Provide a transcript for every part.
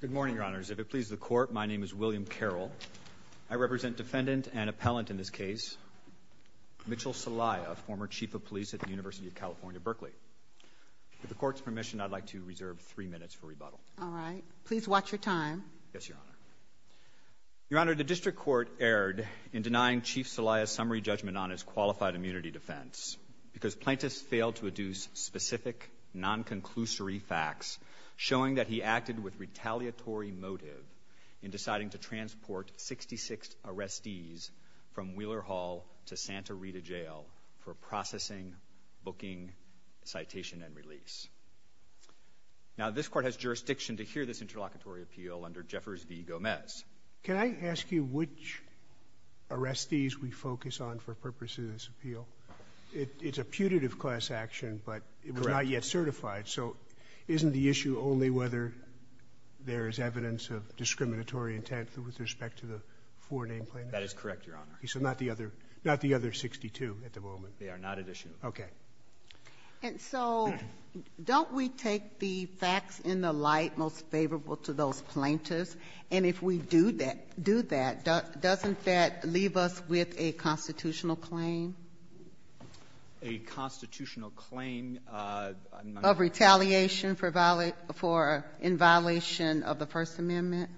Good morning, Your Honors. If it pleases the Court, my name is William Carroll. I represent defendant and appellant in this case, Mitchell Celaya, former Chief of Police at the University of California, Berkeley. With the Court's permission, I'd like to reserve three minutes for rebuttal. All right. Please watch your time. Yes, Your Honor. Your Honor, the District Court erred in denying Chief Celaya's summary judgment on his qualified immunity defense because plaintiffs failed to adduce specific, non-conclusory facts showing that he acted with retaliatory motive in deciding to transport 66 arrestees from Wheeler Hall to Santa Rita Jail for processing, booking, citation, and release. Now, this Court has jurisdiction to hear this interlocutory appeal under Jeffers v. Gomez. Can I ask you which arrestees we focus on for purpose of this appeal? It's a putative class action, but it was not yet certified. So isn't the issue only whether there is evidence of discriminatory intent with respect to the four named plaintiffs? That is correct, Your Honor. So not the other 62 at the moment? They are not at issue. Okay. And so don't we take the facts in the light most favorable to those plaintiffs? And if we do that, doesn't that leave us with a constitutional claim? A constitutional claim? Of retaliation in violation of the First Amendment?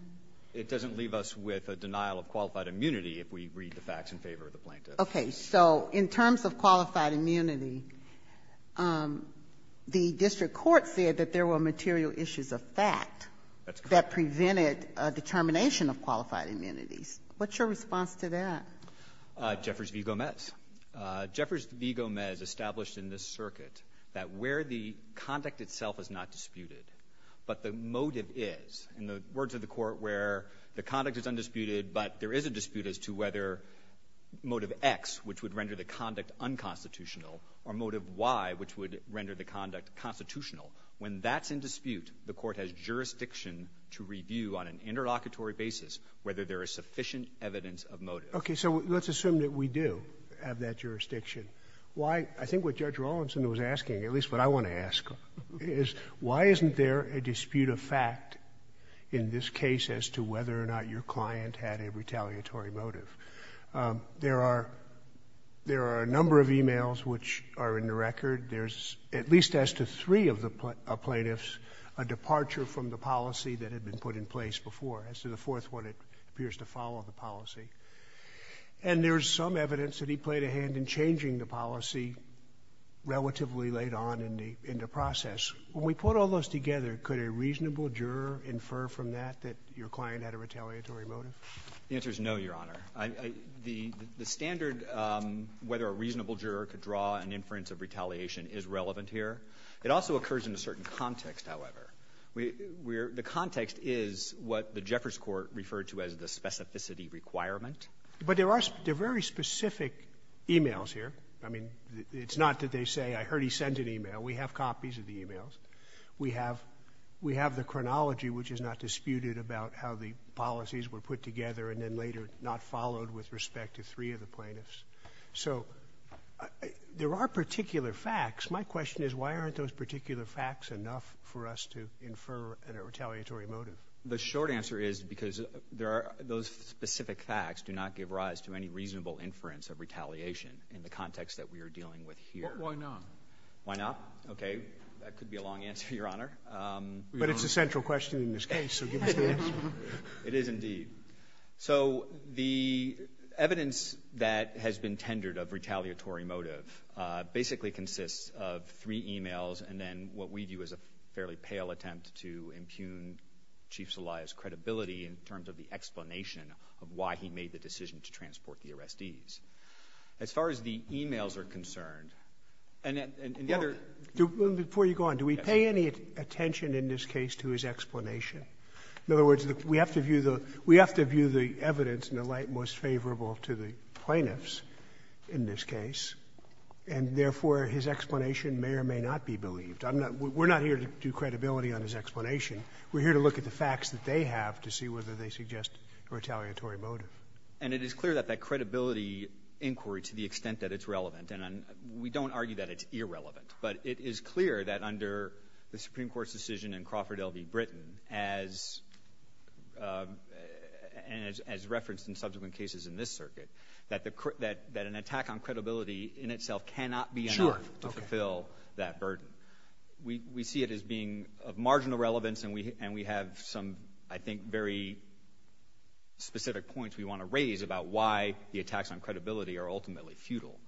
It doesn't leave us with a denial of qualified immunity if we read the facts in favor of the plaintiffs. Okay. So in terms of qualified immunity, the district court said that there were material issues of fact that prevented a determination of qualified immunities. What's your response to that? Jeffers v. Gomez. Jeffers v. Gomez established in this circuit that where the conduct itself is not disputed, but the motive is in the words of the court where the conduct is undisputed, but there is a dispute as to whether motive X, which would render the conduct unconstitutional, or motive Y, which would render the conduct constitutional. When that's in dispute, the court has jurisdiction to review on an interlocutory basis whether there is sufficient evidence of motive. Okay. So let's assume that we do have that jurisdiction. I think what Judge Rawlinson was asking, at least what I want to ask, is why isn't there a dispute of fact in this case as to whether or not your client had a retaliatory motive? There are a number of e-mails which are in the record. There's at least as to three of the plaintiffs a departure from the policy that had been put in place before, as to the fourth one, it appears to follow the policy. And there's some evidence that he played a hand in changing the policy relatively late on in the process. When we put all those together, could a reasonable juror infer from that that your client had a retaliatory motive? The answer is no, Your Honor. The standard whether a reasonable juror could draw an inference of retaliation is relevant here. It also occurs in a certain context, however. The context is what the Jeffers Court referred to as the specificity requirement. But there are very specific e-mails here. I mean, it's not that they say, I heard he send an e-mail. We have copies of the e-mails. We have the chronology which is not disputed about how the policies were put together and then later not followed with respect to three of the plaintiffs. So there are particular facts. My question is why aren't those particular facts enough for us to infer a retaliatory motive? The short answer is because those specific facts do not give rise to any reasonable inference of retaliation in the context that we are dealing with here. Why not? Why not? Okay, that could be a long answer, Your Honor. But it's a central question in this case, so give us the answer. It is indeed. So the evidence that has been tendered of retaliatory motive basically consists of three e-mails and then what we view as a fairly pale attempt to impugn Chief Zelaya's credibility in terms of the explanation of why he made the decision to transport the arrestees. As far as the e-mails are concerned, and the other— Before you go on, do we pay any attention in this case to his explanation? In other words, we have to view the evidence in the light most favorable to the plaintiffs in this case, and therefore his explanation may or may not be believed. We're not here to do credibility on his explanation. We're here to look at the facts that they have to see whether they suggest a retaliatory motive. And it is clear that that credibility inquiry, to the extent that it's relevant, and we don't argue that it's irrelevant, but it is clear that under the Supreme Court's decision in Crawford, L.V., Britain, as referenced in subsequent cases in this circuit, that an attack on credibility in itself cannot be enough to fulfill that burden. We see it as being of marginal relevance, and we have some, I think, very specific points we want to raise about why the attacks on credibility are ultimately futile.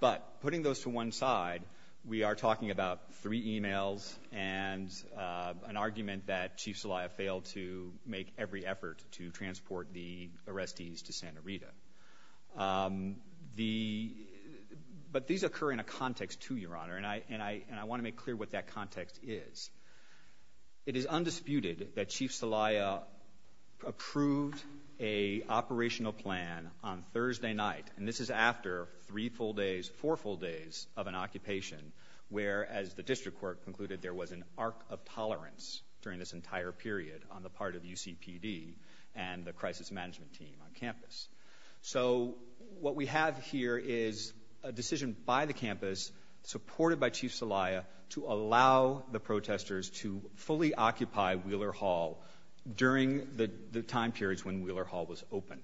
But putting those to one side, we are talking about three emails and an argument that Chief Celaya failed to make every effort to transport the arrestees to Santa Rita. But these occur in a context, too, Your Honor, and I want to make clear what that context is. It is undisputed that Chief Celaya approved an operational plan on Thursday night, and this is after three full days, four full days of an occupation, where, as the district court concluded, there was an arc of tolerance during this entire period on the part of UCPD and the crisis management team on campus. So what we have here is a decision by the campus, supported by Chief Celaya, to allow the protesters to fully occupy Wheeler Hall during the time periods when Wheeler Hall was open.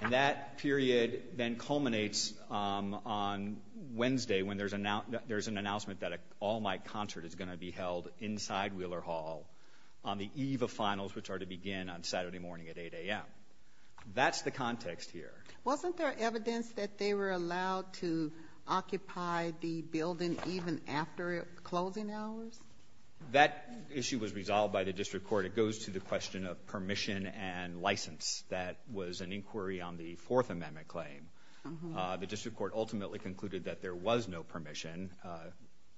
And that period then culminates on Wednesday when there's an announcement that an all-night concert is going to be held inside Wheeler Hall on the eve of finals, which are to begin on Saturday morning at 8 a.m. That's the context here. Wasn't there evidence that they were allowed to occupy the building even after closing hours? That issue was resolved by the district court. It goes to the question of permission and license. That was an inquiry on the Fourth Amendment claim. The district court ultimately concluded that there was no permission,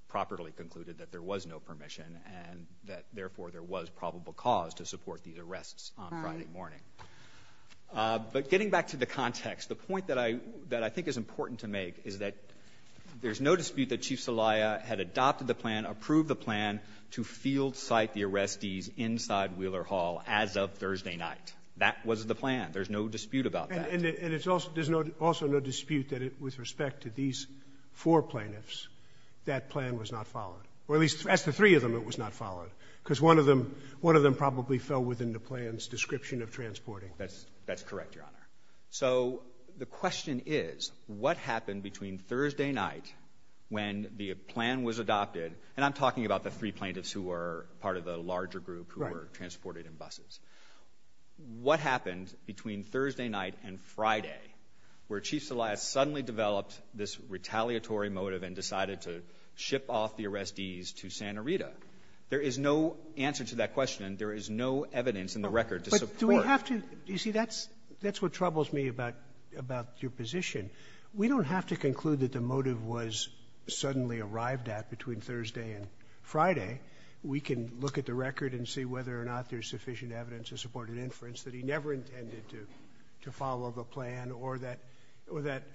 properly concluded that there was no permission, and that, therefore, there was probable cause to support these arrests on Friday morning. But getting back to the context, the point that I think is important to make is that there's no dispute that Chief Celaya had adopted the plan, approved the plan, to field-site the arrestees inside Wheeler Hall as of Thursday night. That was the plan. There's no dispute about that. And there's also no dispute that with respect to these four plaintiffs, that plan was not followed. Or at least, as the three of them, it was not followed, because one of them probably fell within the plan's description of transporting. That's correct, Your Honor. So the question is, what happened between Thursday night when the plan was adopted, and I'm talking about the three plaintiffs who were part of the larger group who were transported in buses. What happened between Thursday night and Friday, where Chief Celaya suddenly developed this retaliatory motive and decided to ship off the arrestees to Santa Rita? There is no answer to that question. There is no evidence in the record to support. But do we have to—you see, that's what troubles me about your position. We don't have to conclude that the motive was suddenly arrived at between Thursday and Friday. We can look at the record and see whether or not there's sufficient evidence to support an inference that he never intended to follow the plan or that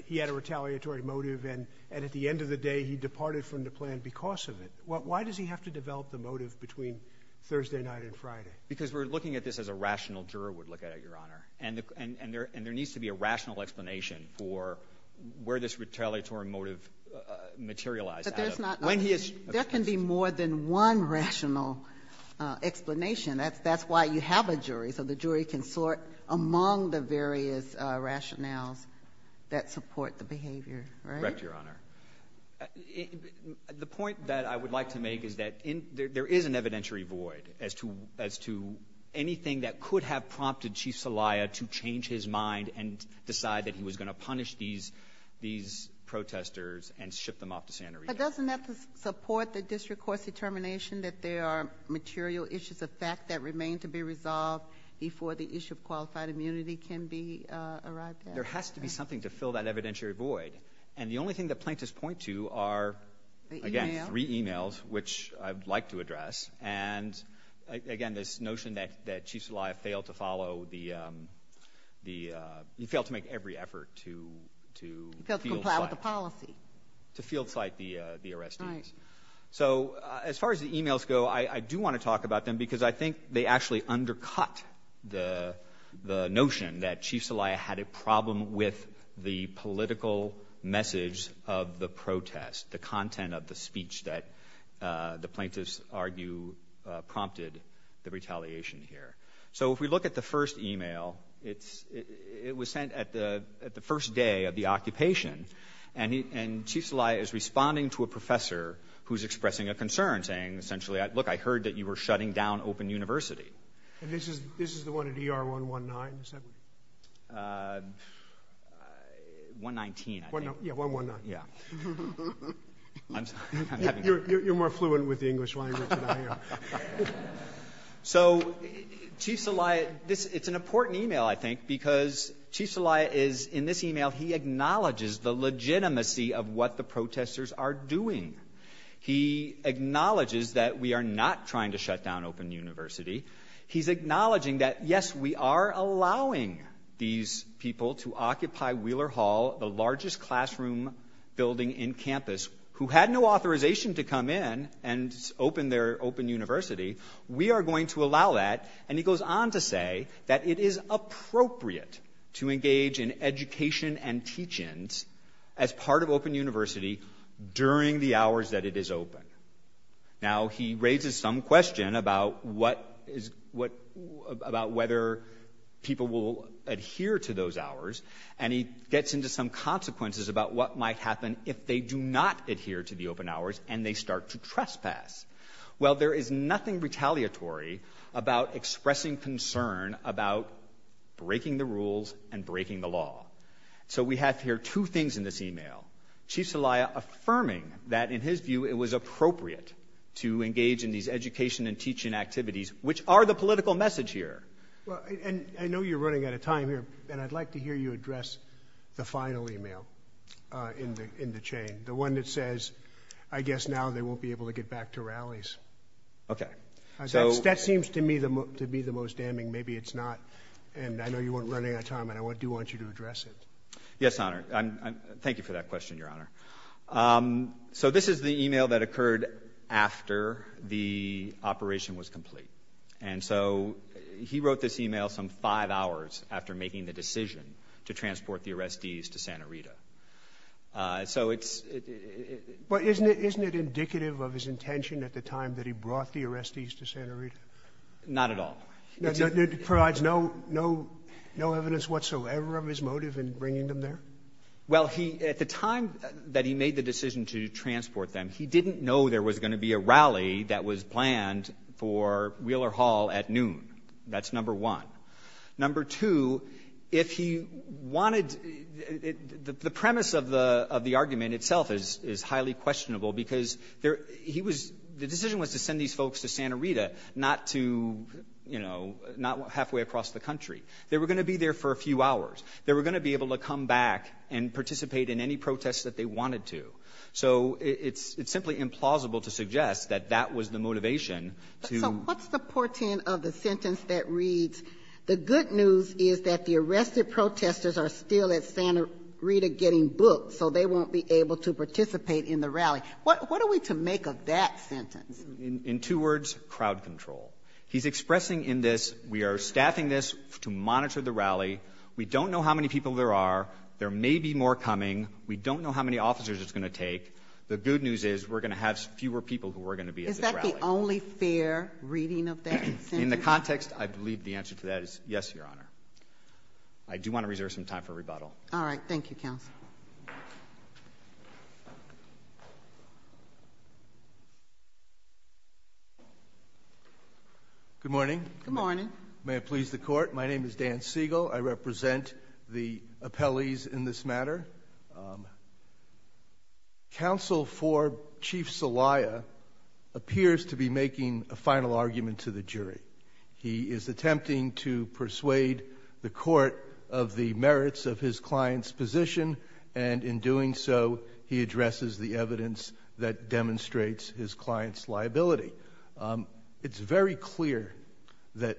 he had a retaliatory motive and at the end of the day he departed from the plan because of it. Why does he have to develop the motive between Thursday night and Friday? Because we're looking at this as a rational juror would look at it, Your Honor, and there needs to be a rational explanation for where this retaliatory motive materialized. There can be more than one rational explanation. That's why you have a jury, so the jury can sort among the various rationales that support the behavior, right? Correct, Your Honor. The point that I would like to make is that there is an evidentiary void as to anything that could have prompted Chief Celaya to change his mind and decide that he was going to punish these protesters and ship them off to Santa Rita. But doesn't that support the district court's determination that there are material issues of fact that remain to be resolved before the issue of qualified immunity can be arrived at? There has to be something to fill that evidentiary void. And the only thing that plaintiffs point to are, again, three e-mails, which I'd like to address, and, again, this notion that Chief Celaya failed to make every effort to field-cite the arrestees. So as far as the e-mails go, I do want to talk about them because I think they actually undercut the notion that Chief Celaya had a problem with the political message of the protest, the content of the speech that the plaintiffs argue prompted the retaliation here. So if we look at the first e-mail, it was sent at the first day of the occupation, and Chief Celaya is responding to a professor who's expressing a concern, saying, essentially, look, I heard that you were shutting down Open University. And this is the one at ER 119? 119, I think. Yeah, 119. You're more fluent with the English language than I am. So Chief Celaya, it's an important e-mail, I think, because Chief Celaya is, in this e-mail, he acknowledges the legitimacy of what the protesters are doing. He acknowledges that we are not trying to shut down Open University. He's acknowledging that, yes, we are allowing these people to occupy Wheeler Hall, the largest classroom building in campus, who had no authorization to come in and open their Open University. We are going to allow that. And he goes on to say that it is appropriate to engage in education and teach-ins as part of Open University during the hours that it is open. Now, he raises some question about whether people will adhere to those hours, and he gets into some consequences about what might happen if they do not adhere to the open hours and they start to trespass. Well, there is nothing retaliatory about expressing concern about breaking the rules and breaking the law. So we have here two things in this e-mail, Chief Celaya affirming that, in his view, it was appropriate to engage in these education and teach-in activities, which are the political message here. And I know you're running out of time here, and I'd like to hear you address the final e-mail in the chain, the one that says, I guess now they won't be able to get back to rallies. Okay. That seems to me to be the most damning. Maybe it's not, and I know you weren't running out of time, and I do want you to address it. Yes, Honor. Thank you for that question, Your Honor. So this is the e-mail that occurred after the operation was complete. And so he wrote this e-mail some five hours after making the decision to transport the arrestees to Santa Rita. So it's – But isn't it indicative of his intention at the time that he brought the arrestees to Santa Rita? Not at all. It provides no evidence whatsoever of his motive in bringing them there? Well, he – at the time that he made the decision to transport them, he didn't know there was going to be a rally that was planned for Wheeler Hall at noon. That's number one. Number two, if he wanted – the premise of the argument itself is highly questionable because there – he was – the decision was to send these folks to Santa Rita, not to – you know, not halfway across the country. They were going to be there for a few hours. They were going to be able to come back and participate in any protests that they wanted to. So it's simply implausible to suggest that that was the motivation to – So what's the portent of the sentence that reads, the good news is that the arrested protesters are still at Santa Rita getting booked, so they won't be able to participate in the rally. What are we to make of that sentence? In two words, crowd control. He's expressing in this, we are staffing this to monitor the rally. We don't know how many people there are. There may be more coming. We don't know how many officers it's going to take. The good news is we're going to have fewer people who are going to be at this rally. Is that the only fair reading of that sentence? In the context, I believe the answer to that is yes, Your Honor. I do want to reserve some time for rebuttal. All right. Thank you, counsel. Good morning. Good morning. May it please the Court, my name is Dan Siegel. I represent the appellees in this matter. Counsel for Chief Celaya appears to be making a final argument to the jury. He is attempting to persuade the court of the merits of his client's position, and in doing so, he addresses the evidence that demonstrates his client's liability. It's very clear that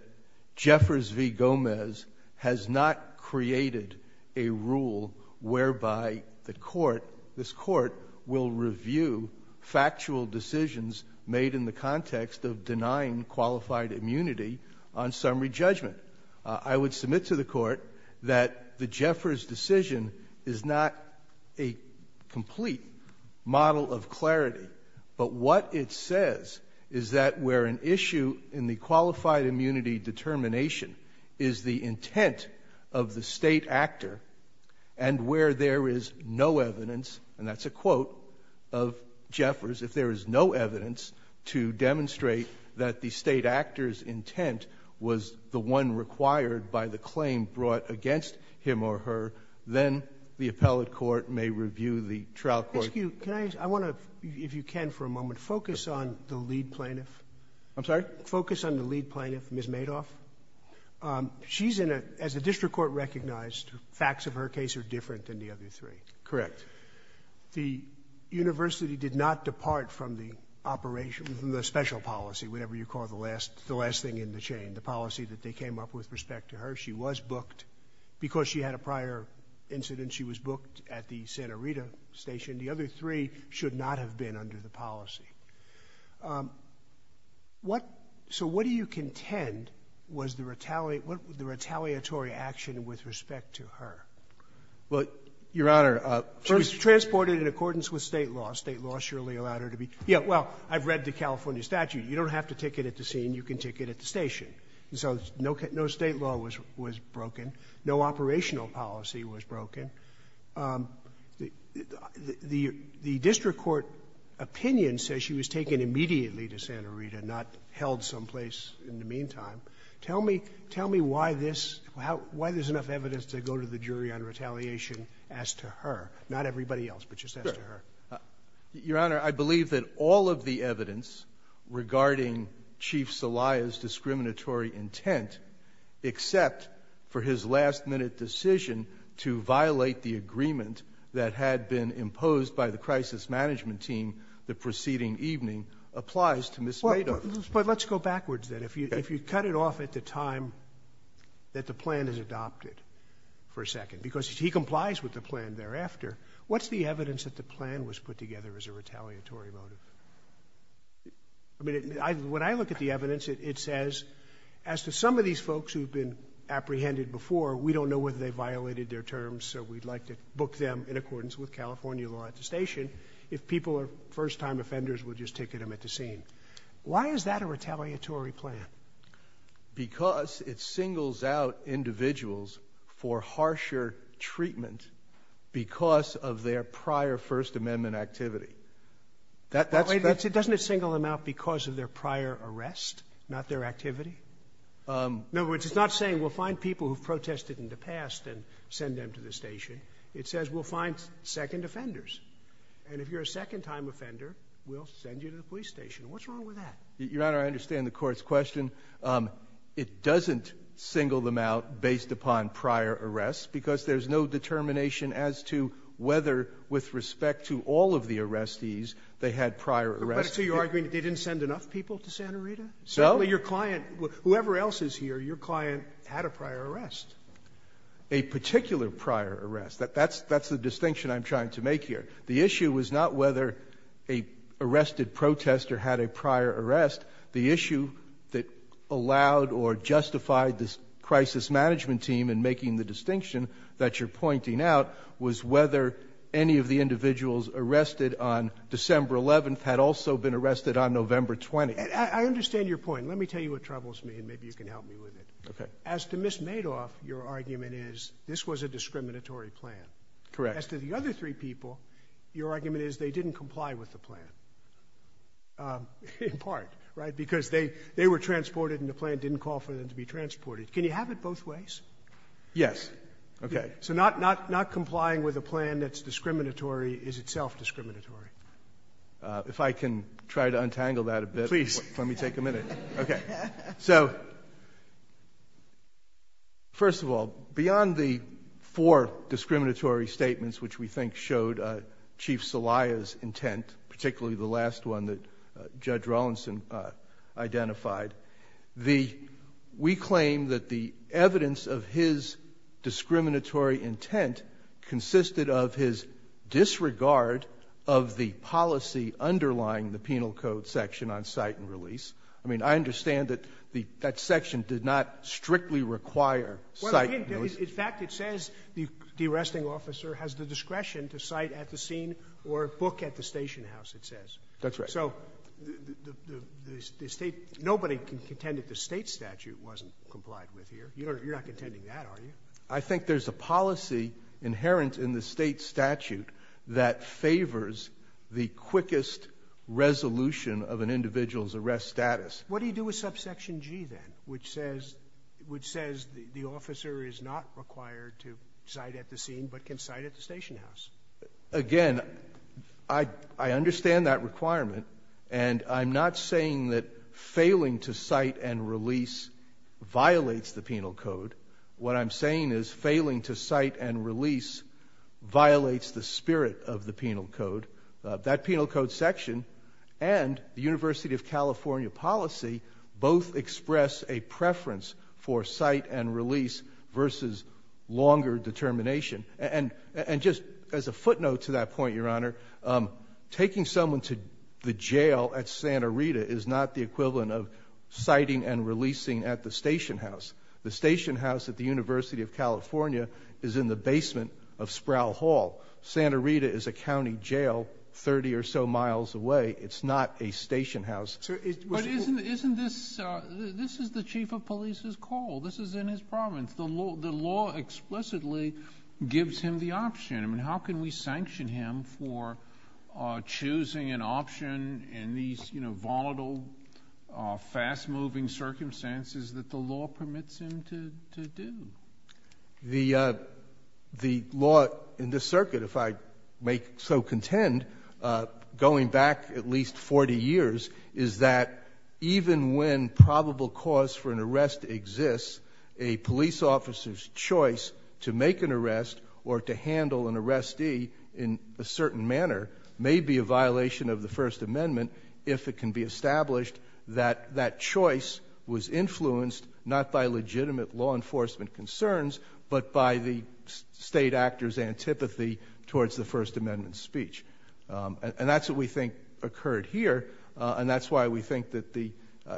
Jeffers v. Gomez has not created a rule whereby the court, this court, will review factual decisions made in the context of denying qualified immunity on summary judgment. I would submit to the court that the Jeffers decision is not a complete model of clarity, but what it says is that where an issue in the qualified immunity determination is the intent of the state actor, and where there is no evidence, and that's a quote of Jeffers, if there is no evidence to demonstrate that the state actor's intent was the one required by the claim brought against him or her, then the appellate court may review the trial court. Excuse me. I want to, if you can for a moment, focus on the lead plaintiff. I'm sorry? Focus on the lead plaintiff, Ms. Madoff. She's in a, as the district court recognized, facts of her case are different than the other three. Correct. The university did not depart from the operation, from the special policy, whatever you call the last thing in the chain, the policy that they came up with respect to her. She was booked because she had a prior incident. She was booked at the Santa Rita station. The other three should not have been under the policy. So what do you contend was the retaliatory action with respect to her? Well, Your Honor, she was transported in accordance with state law. State law surely allowed her to be. Yeah, well, I've read the California statute. You don't have to take it at the scene. You can take it at the station. So no state law was broken. No operational policy was broken. The district court opinion says she was taken immediately to Santa Rita, not held someplace in the meantime. Tell me why there's enough evidence to go to the jury on retaliation as to her, not everybody else, but just as to her. Your Honor, I believe that all of the evidence regarding Chief Celaya's discriminatory intent, except for his last-minute decision to violate the agreement that had been imposed by the crisis management team the preceding evening, applies to Ms. Madoff. But let's go backwards then. If you cut it off at the time that the plan is adopted for a second, because he complies with the plan thereafter, what's the evidence that the plan was put together as a retaliatory motive? I mean, when I look at the evidence, it says, as to some of these folks who've been apprehended before, we don't know whether they violated their terms, so we'd like to book them in accordance with California law at the station if people are first-time offenders, we'll just ticket them at the scene. Why is that a retaliatory plan? Because it singles out individuals for harsher treatment because of their prior First Amendment activity. Doesn't it single them out because of their prior arrest, not their activity? No, it's not saying we'll find people who've protested in the past and send them to the station. It says we'll find second offenders, and if you're a second-time offender, we'll send you to the police station. What's wrong with that? Your Honor, I understand the court's question. It doesn't single them out based upon prior arrests because there's no determination as to whether, with respect to all of the arrestees, they had prior arrests. So you're arguing they didn't send enough people to Santa Rita? Certainly your client, whoever else is here, your client had a prior arrest. A particular prior arrest. That's the distinction I'm trying to make here. The issue is not whether a arrested protester had a prior arrest. The issue that allowed or justified this crisis management team in making the distinction that you're pointing out was whether any of the individuals arrested on December 11th had also been arrested on November 20th. I understand your point. Let me tell you what troubles me, and maybe you can help me with it. Okay. As to Ms. Madoff, your argument is this was a discriminatory plan. Correct. As to the other three people, your argument is they didn't comply with the plan. In part, right, because they were transported and the plan didn't call for them to be transported. Can you have it both ways? Yes. Okay. So not complying with a plan that's discriminatory is itself discriminatory. If I can try to untangle that a bit. Please. Let me take a minute. Okay. So first of all, beyond the four discriminatory statements which we think showed Chief Celaya's intent, particularly the last one that Judge Rollinson identified, we claim that the evidence of his discriminatory intent consisted of his disregard of the policy underlying the penal code section on cite and release. I mean, I understand that that section did not strictly require cite and release. In fact, it says the arresting officer has the discretion to cite at the scene or book at the station house, it says. That's right. So nobody can contend that the state statute wasn't complied with here. You're not contending that, are you? I think there's a policy inherent in the state statute that favors the quickest resolution of an individual's arrest status. What do you do with subsection G then, which says the officer is not required to cite at the scene but can cite at the station house? Again, I understand that requirement, and I'm not saying that failing to cite and release violates the penal code. What I'm saying is failing to cite and release violates the spirit of the penal code. That penal code section and the University of California policy both express a preference for cite and release versus longer determination. And just as a footnote to that point, Your Honor, taking someone to the jail at Santa Rita is not the equivalent of citing and releasing at the station house. The station house at the University of California is in the basement of Sproul Hall. Santa Rita is a county jail 30 or so miles away. It's not a station house. But isn't this the chief of police's call? This is in his province. The law explicitly gives him the option. How can we sanction him for choosing an option in these volatile, fast-moving circumstances that the law permits him to do? The law in this circuit, if I may so contend, going back at least 40 years, is that even when probable cause for an arrest exists, a police officer's choice to make an arrest or to handle an arrestee in a certain manner may be a violation of the First Amendment if it can be established that that choice was influenced not by legitimate law enforcement concerns but by the state actor's antipathy towards the First Amendment speech. And that's what we think occurred here. And that's why we think that the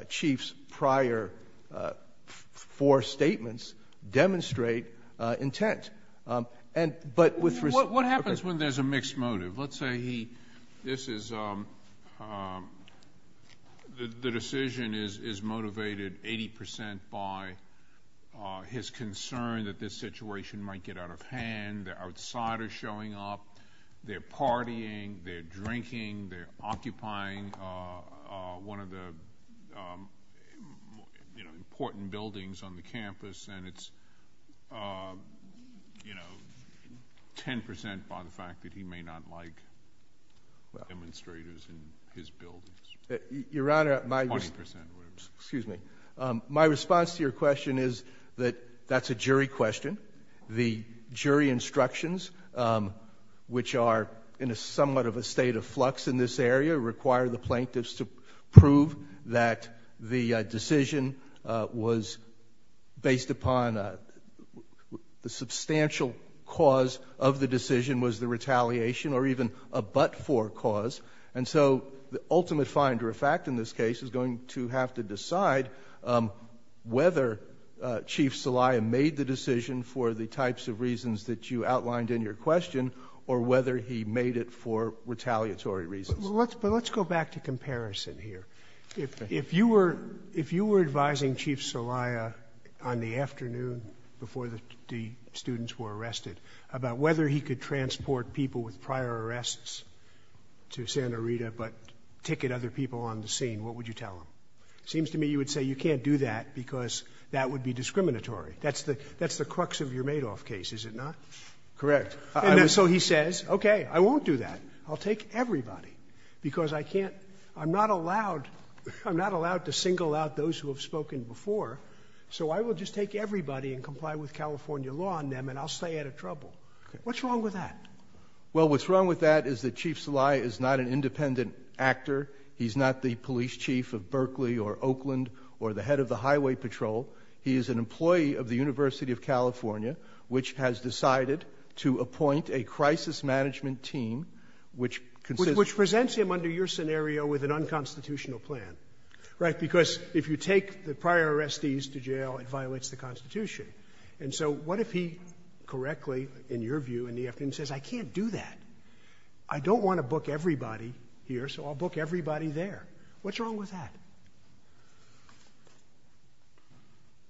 chief's prior four statements demonstrate intent. What happens when there's a mixed motive? Let's say the decision is motivated 80% by his concern that this situation might get out of hand, the outsider showing up, they're partying, they're drinking, they're occupying one of the important buildings on the campus, and it's 10% by the fact that he may not like demonstrators in his buildings. Your Honor, my response to your question is that that's a jury question. The jury instructions, which are in somewhat of a state of flux in this area, require the plaintiffs to prove that the decision was based upon the substantial cause of the decision was the retaliation or even a but-for cause. And so the ultimate finder of fact in this case is going to have to decide whether Chief Celaya made the decision for the types of reasons that you outlined in your question or whether he made it for retaliatory reasons. But let's go back to comparison here. If you were advising Chief Celaya on the afternoon before the students were arrested about whether he could transport people with prior arrests to Santa Rita but ticket other people on the scene, what would you tell him? It seems to me you would say you can't do that because that would be discriminatory. That's the crux of your Madoff case, is it not? Correct. So he says, okay, I won't do that. I'll take everybody because I'm not allowed to single out those who have spoken before, so I will just take everybody and comply with California law on them, and I'll stay out of trouble. What's wrong with that? Well, what's wrong with that is that Chief Celaya is not an independent actor. He's not the police chief of Berkeley or Oakland or the head of the highway patrol. He is an employee of the University of California, which has decided to appoint a crisis management team which consists of Which presents him under your scenario with an unconstitutional plan. Right, because if you take the prior arrestees to jail, it violates the Constitution. And so what if he correctly, in your view, in the afternoon says, I can't do that. I don't want to book everybody here, so I'll book everybody there. What's wrong with that?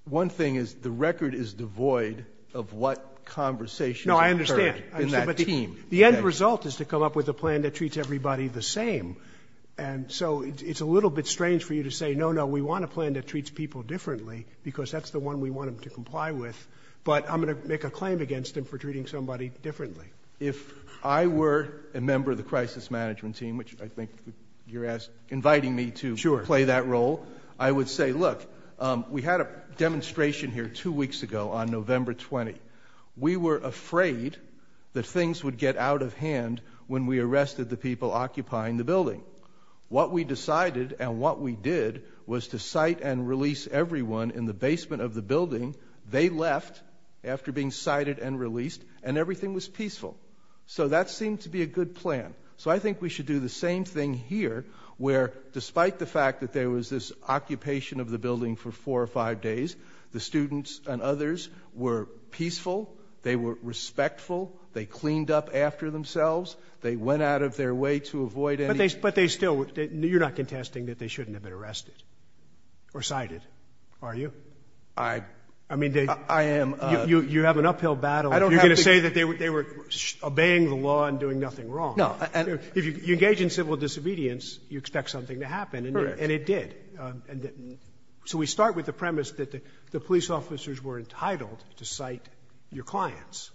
One thing is the record is devoid of what conversations occurred in that team. No, I understand. The end result is to come up with a plan that treats everybody the same. And so it's a little bit strange for you to say, no, no, we want a plan that treats people differently because that's the one we want them to comply with, but I'm going to make a claim against them for treating somebody differently. If I were a member of the crisis management team, which I think you're inviting me to play that role, I would say, look, we had a demonstration here two weeks ago on November 20. We were afraid that things would get out of hand when we arrested the people occupying the building. What we decided and what we did was to cite and release everyone in the basement of the building. They left after being cited and released and everything was peaceful. So that seemed to be a good plan. So I think we should do the same thing here where, despite the fact that there was this occupation of the building for four or five days, the students and others were peaceful. They were respectful. They cleaned up after themselves. They went out of their way to avoid any. But they still, you're not contesting that they shouldn't have been arrested or cited, are you? I am. You have an uphill battle. You're going to say that they were obeying the law and doing nothing wrong. No. If you engage in civil disobedience, you expect something to happen. Correct. And it did. So we start with the premise that the police officers were entitled to cite your clients,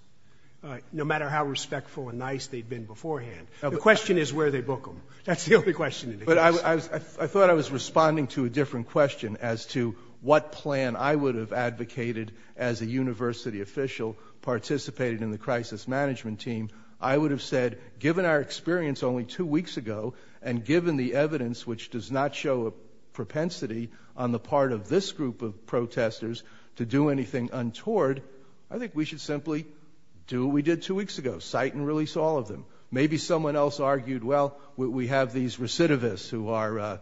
no matter how respectful and nice they'd been beforehand. The question is where they book them. That's the only question. I thought I was responding to a different question as to what plan I would have advocated as a university official participating in the crisis management team. I would have said, given our experience only two weeks ago and given the evidence which does not show a propensity on the part of this group of protesters to do anything untoward, I think we should simply do what we did two weeks ago, cite and release all of them. Maybe someone else argued, well, we have these recidivists who are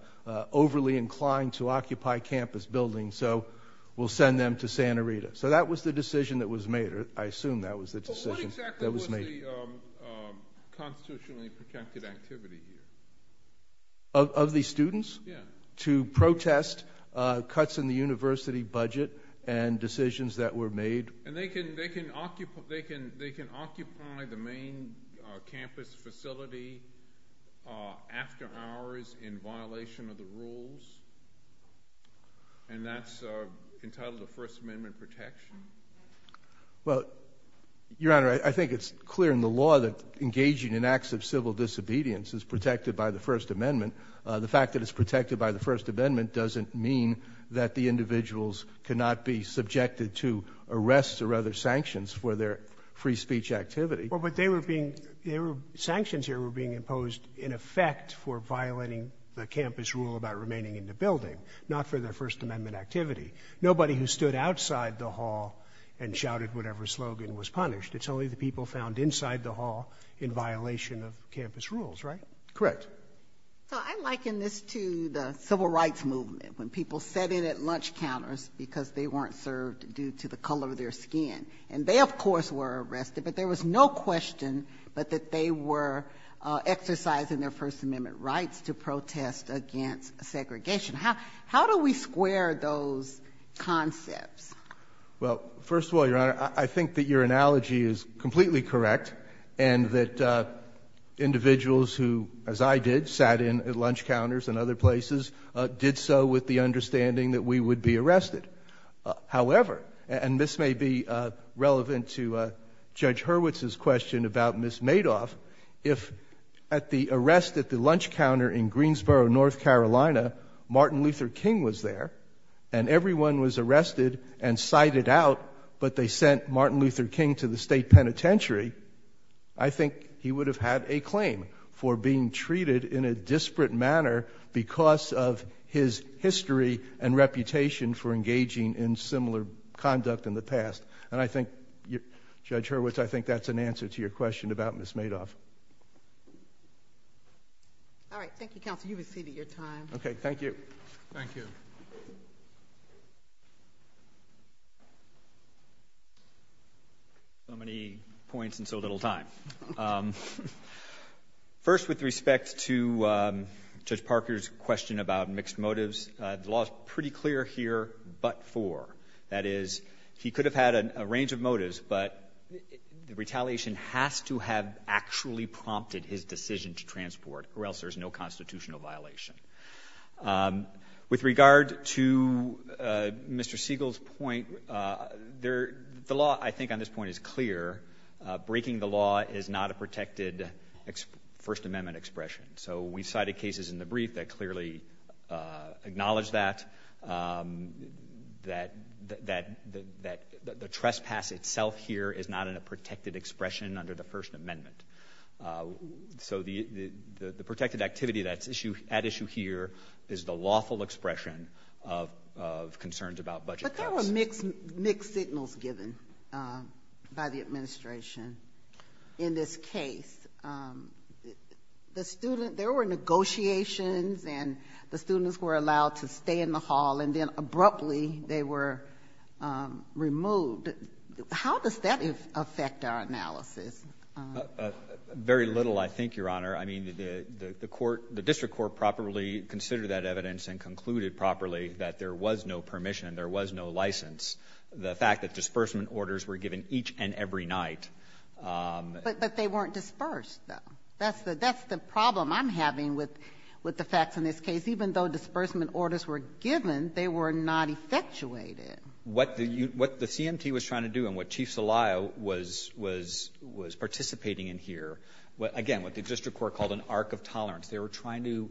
overly inclined to occupy campus buildings, so we'll send them to Santa Rita. So that was the decision that was made. I assume that was the decision that was made. What exactly was the constitutionally protected activity here? Of the students? Yeah. To protest cuts in the university budget and decisions that were made. And they can occupy the main campus facility after hours in violation of the rules, and that's entitled to First Amendment protection? Well, Your Honor, I think it's clear in the law that engaging in acts of civil disobedience is protected by the First Amendment. The fact that it's protected by the First Amendment doesn't mean that the individuals cannot be subjected to arrests or other sanctions for their free speech activity. Well, but sanctions here were being imposed in effect for violating the campus rule about remaining in the building, not for their First Amendment activity. Nobody who stood outside the hall and shouted whatever slogan was punished. It's only the people found inside the hall in violation of campus rules, right? Correct. So I liken this to the Civil Rights Movement, when people sat in at lunch counters because they weren't served due to the color of their skin. And they, of course, were arrested, but there was no question but that they were exercising their First Amendment rights to protest against segregation. How do we square those concepts? Well, first of all, Your Honor, I think that your analogy is completely correct and that individuals who, as I did, sat in at lunch counters and other places, did so with the understanding that we would be arrested. However, and this may be relevant to Judge Hurwitz's question about Ms. Madoff, if at the arrest at the lunch counter in Greensboro, North Carolina, Martin Luther King was there and everyone was arrested and cited out, but they sent Martin Luther King to the state penitentiary, I think he would have had a claim for being treated in a disparate manner because of his history and reputation for engaging in similar conduct in the past. And I think, Judge Hurwitz, I think that's an answer to your question about Ms. Madoff. All right. Thank you, counsel. You've exceeded your time. Okay. Thank you. Thank you. So many points and so little time. First, with respect to Judge Parker's question about mixed motives, the law is pretty clear here but for. That is, he could have had a range of motives, but the retaliation has to have actually prompted his decision to transport or else there's no constitutional violation. With regard to Mr. Siegel's point, the law, I think, on this point is clear. Breaking the law is not a protected First Amendment expression. So we cited cases in the brief that clearly acknowledge that, that the trespass itself here is not in a protected expression under the First Amendment. So the protected activity that's at issue here is the lawful expression of concerns about budget cuts. But there were mixed signals given by the administration in this case. The student, there were negotiations and the students were allowed to stay in the hall and then abruptly they were removed. How does that affect our analysis? Very little, I think, Your Honor. I mean, the court, the district court properly considered that evidence and concluded properly that there was no permission, there was no license. The fact that disbursement orders were given each and every night. But they weren't dispersed, though. That's the problem I'm having with the facts in this case. Even though disbursement orders were given, they were not effectuated. What the CMT was trying to do and what Chief Zelaya was participating in here, again, what the district court called an arc of tolerance. They were trying to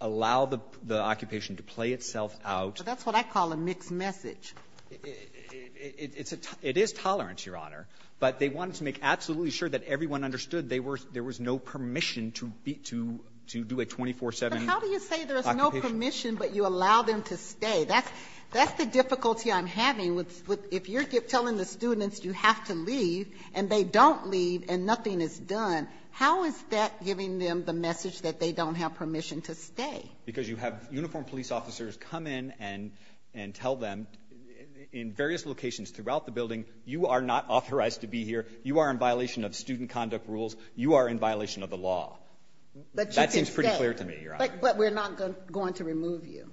allow the occupation to play itself out. That's what I call a mixed message. It is tolerance, Your Honor. But they wanted to make absolutely sure that everyone understood there was no permission to do a 24-7 occupation. But how do you say there is no permission but you allow them to stay? That's the difficulty I'm having. If you're telling the students you have to leave and they don't leave and nothing is done, how is that giving them the message that they don't have permission to stay? Because you have uniformed police officers come in and tell them in various locations throughout the building, you are not authorized to be here. You are in violation of student conduct rules. You are in violation of the law. But you can stay. That seems pretty clear to me, Your Honor. But we're not going to remove you.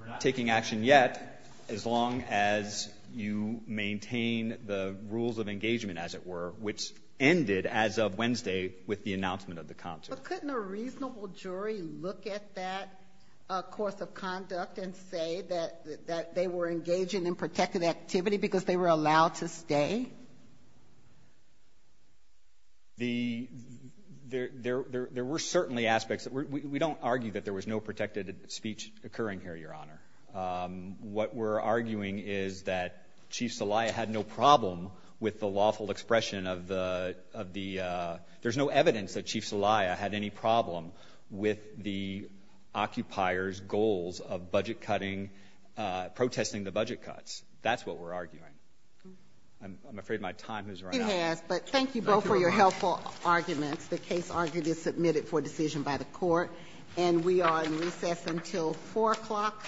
We're not taking action yet as long as you maintain the rules of engagement, as it were, which ended as of Wednesday with the announcement of the concert. But couldn't a reasonable jury look at that course of conduct and say that they were engaging in protected activity because they were allowed to stay? There were certainly aspects. We don't argue that there was no protected speech occurring here, Your Honor. What we're arguing is that Chief Zelaya had no problem with the lawful expression of the ‑‑ there's no evidence that Chief Zelaya had any problem with the occupier's goals of budget cutting, protesting the budget cuts. That's what we're arguing. I'm afraid my time has run out. It has, but thank you both for your helpful arguments. The case argument is submitted for decision by the court, and we are in recess until 4 o'clock.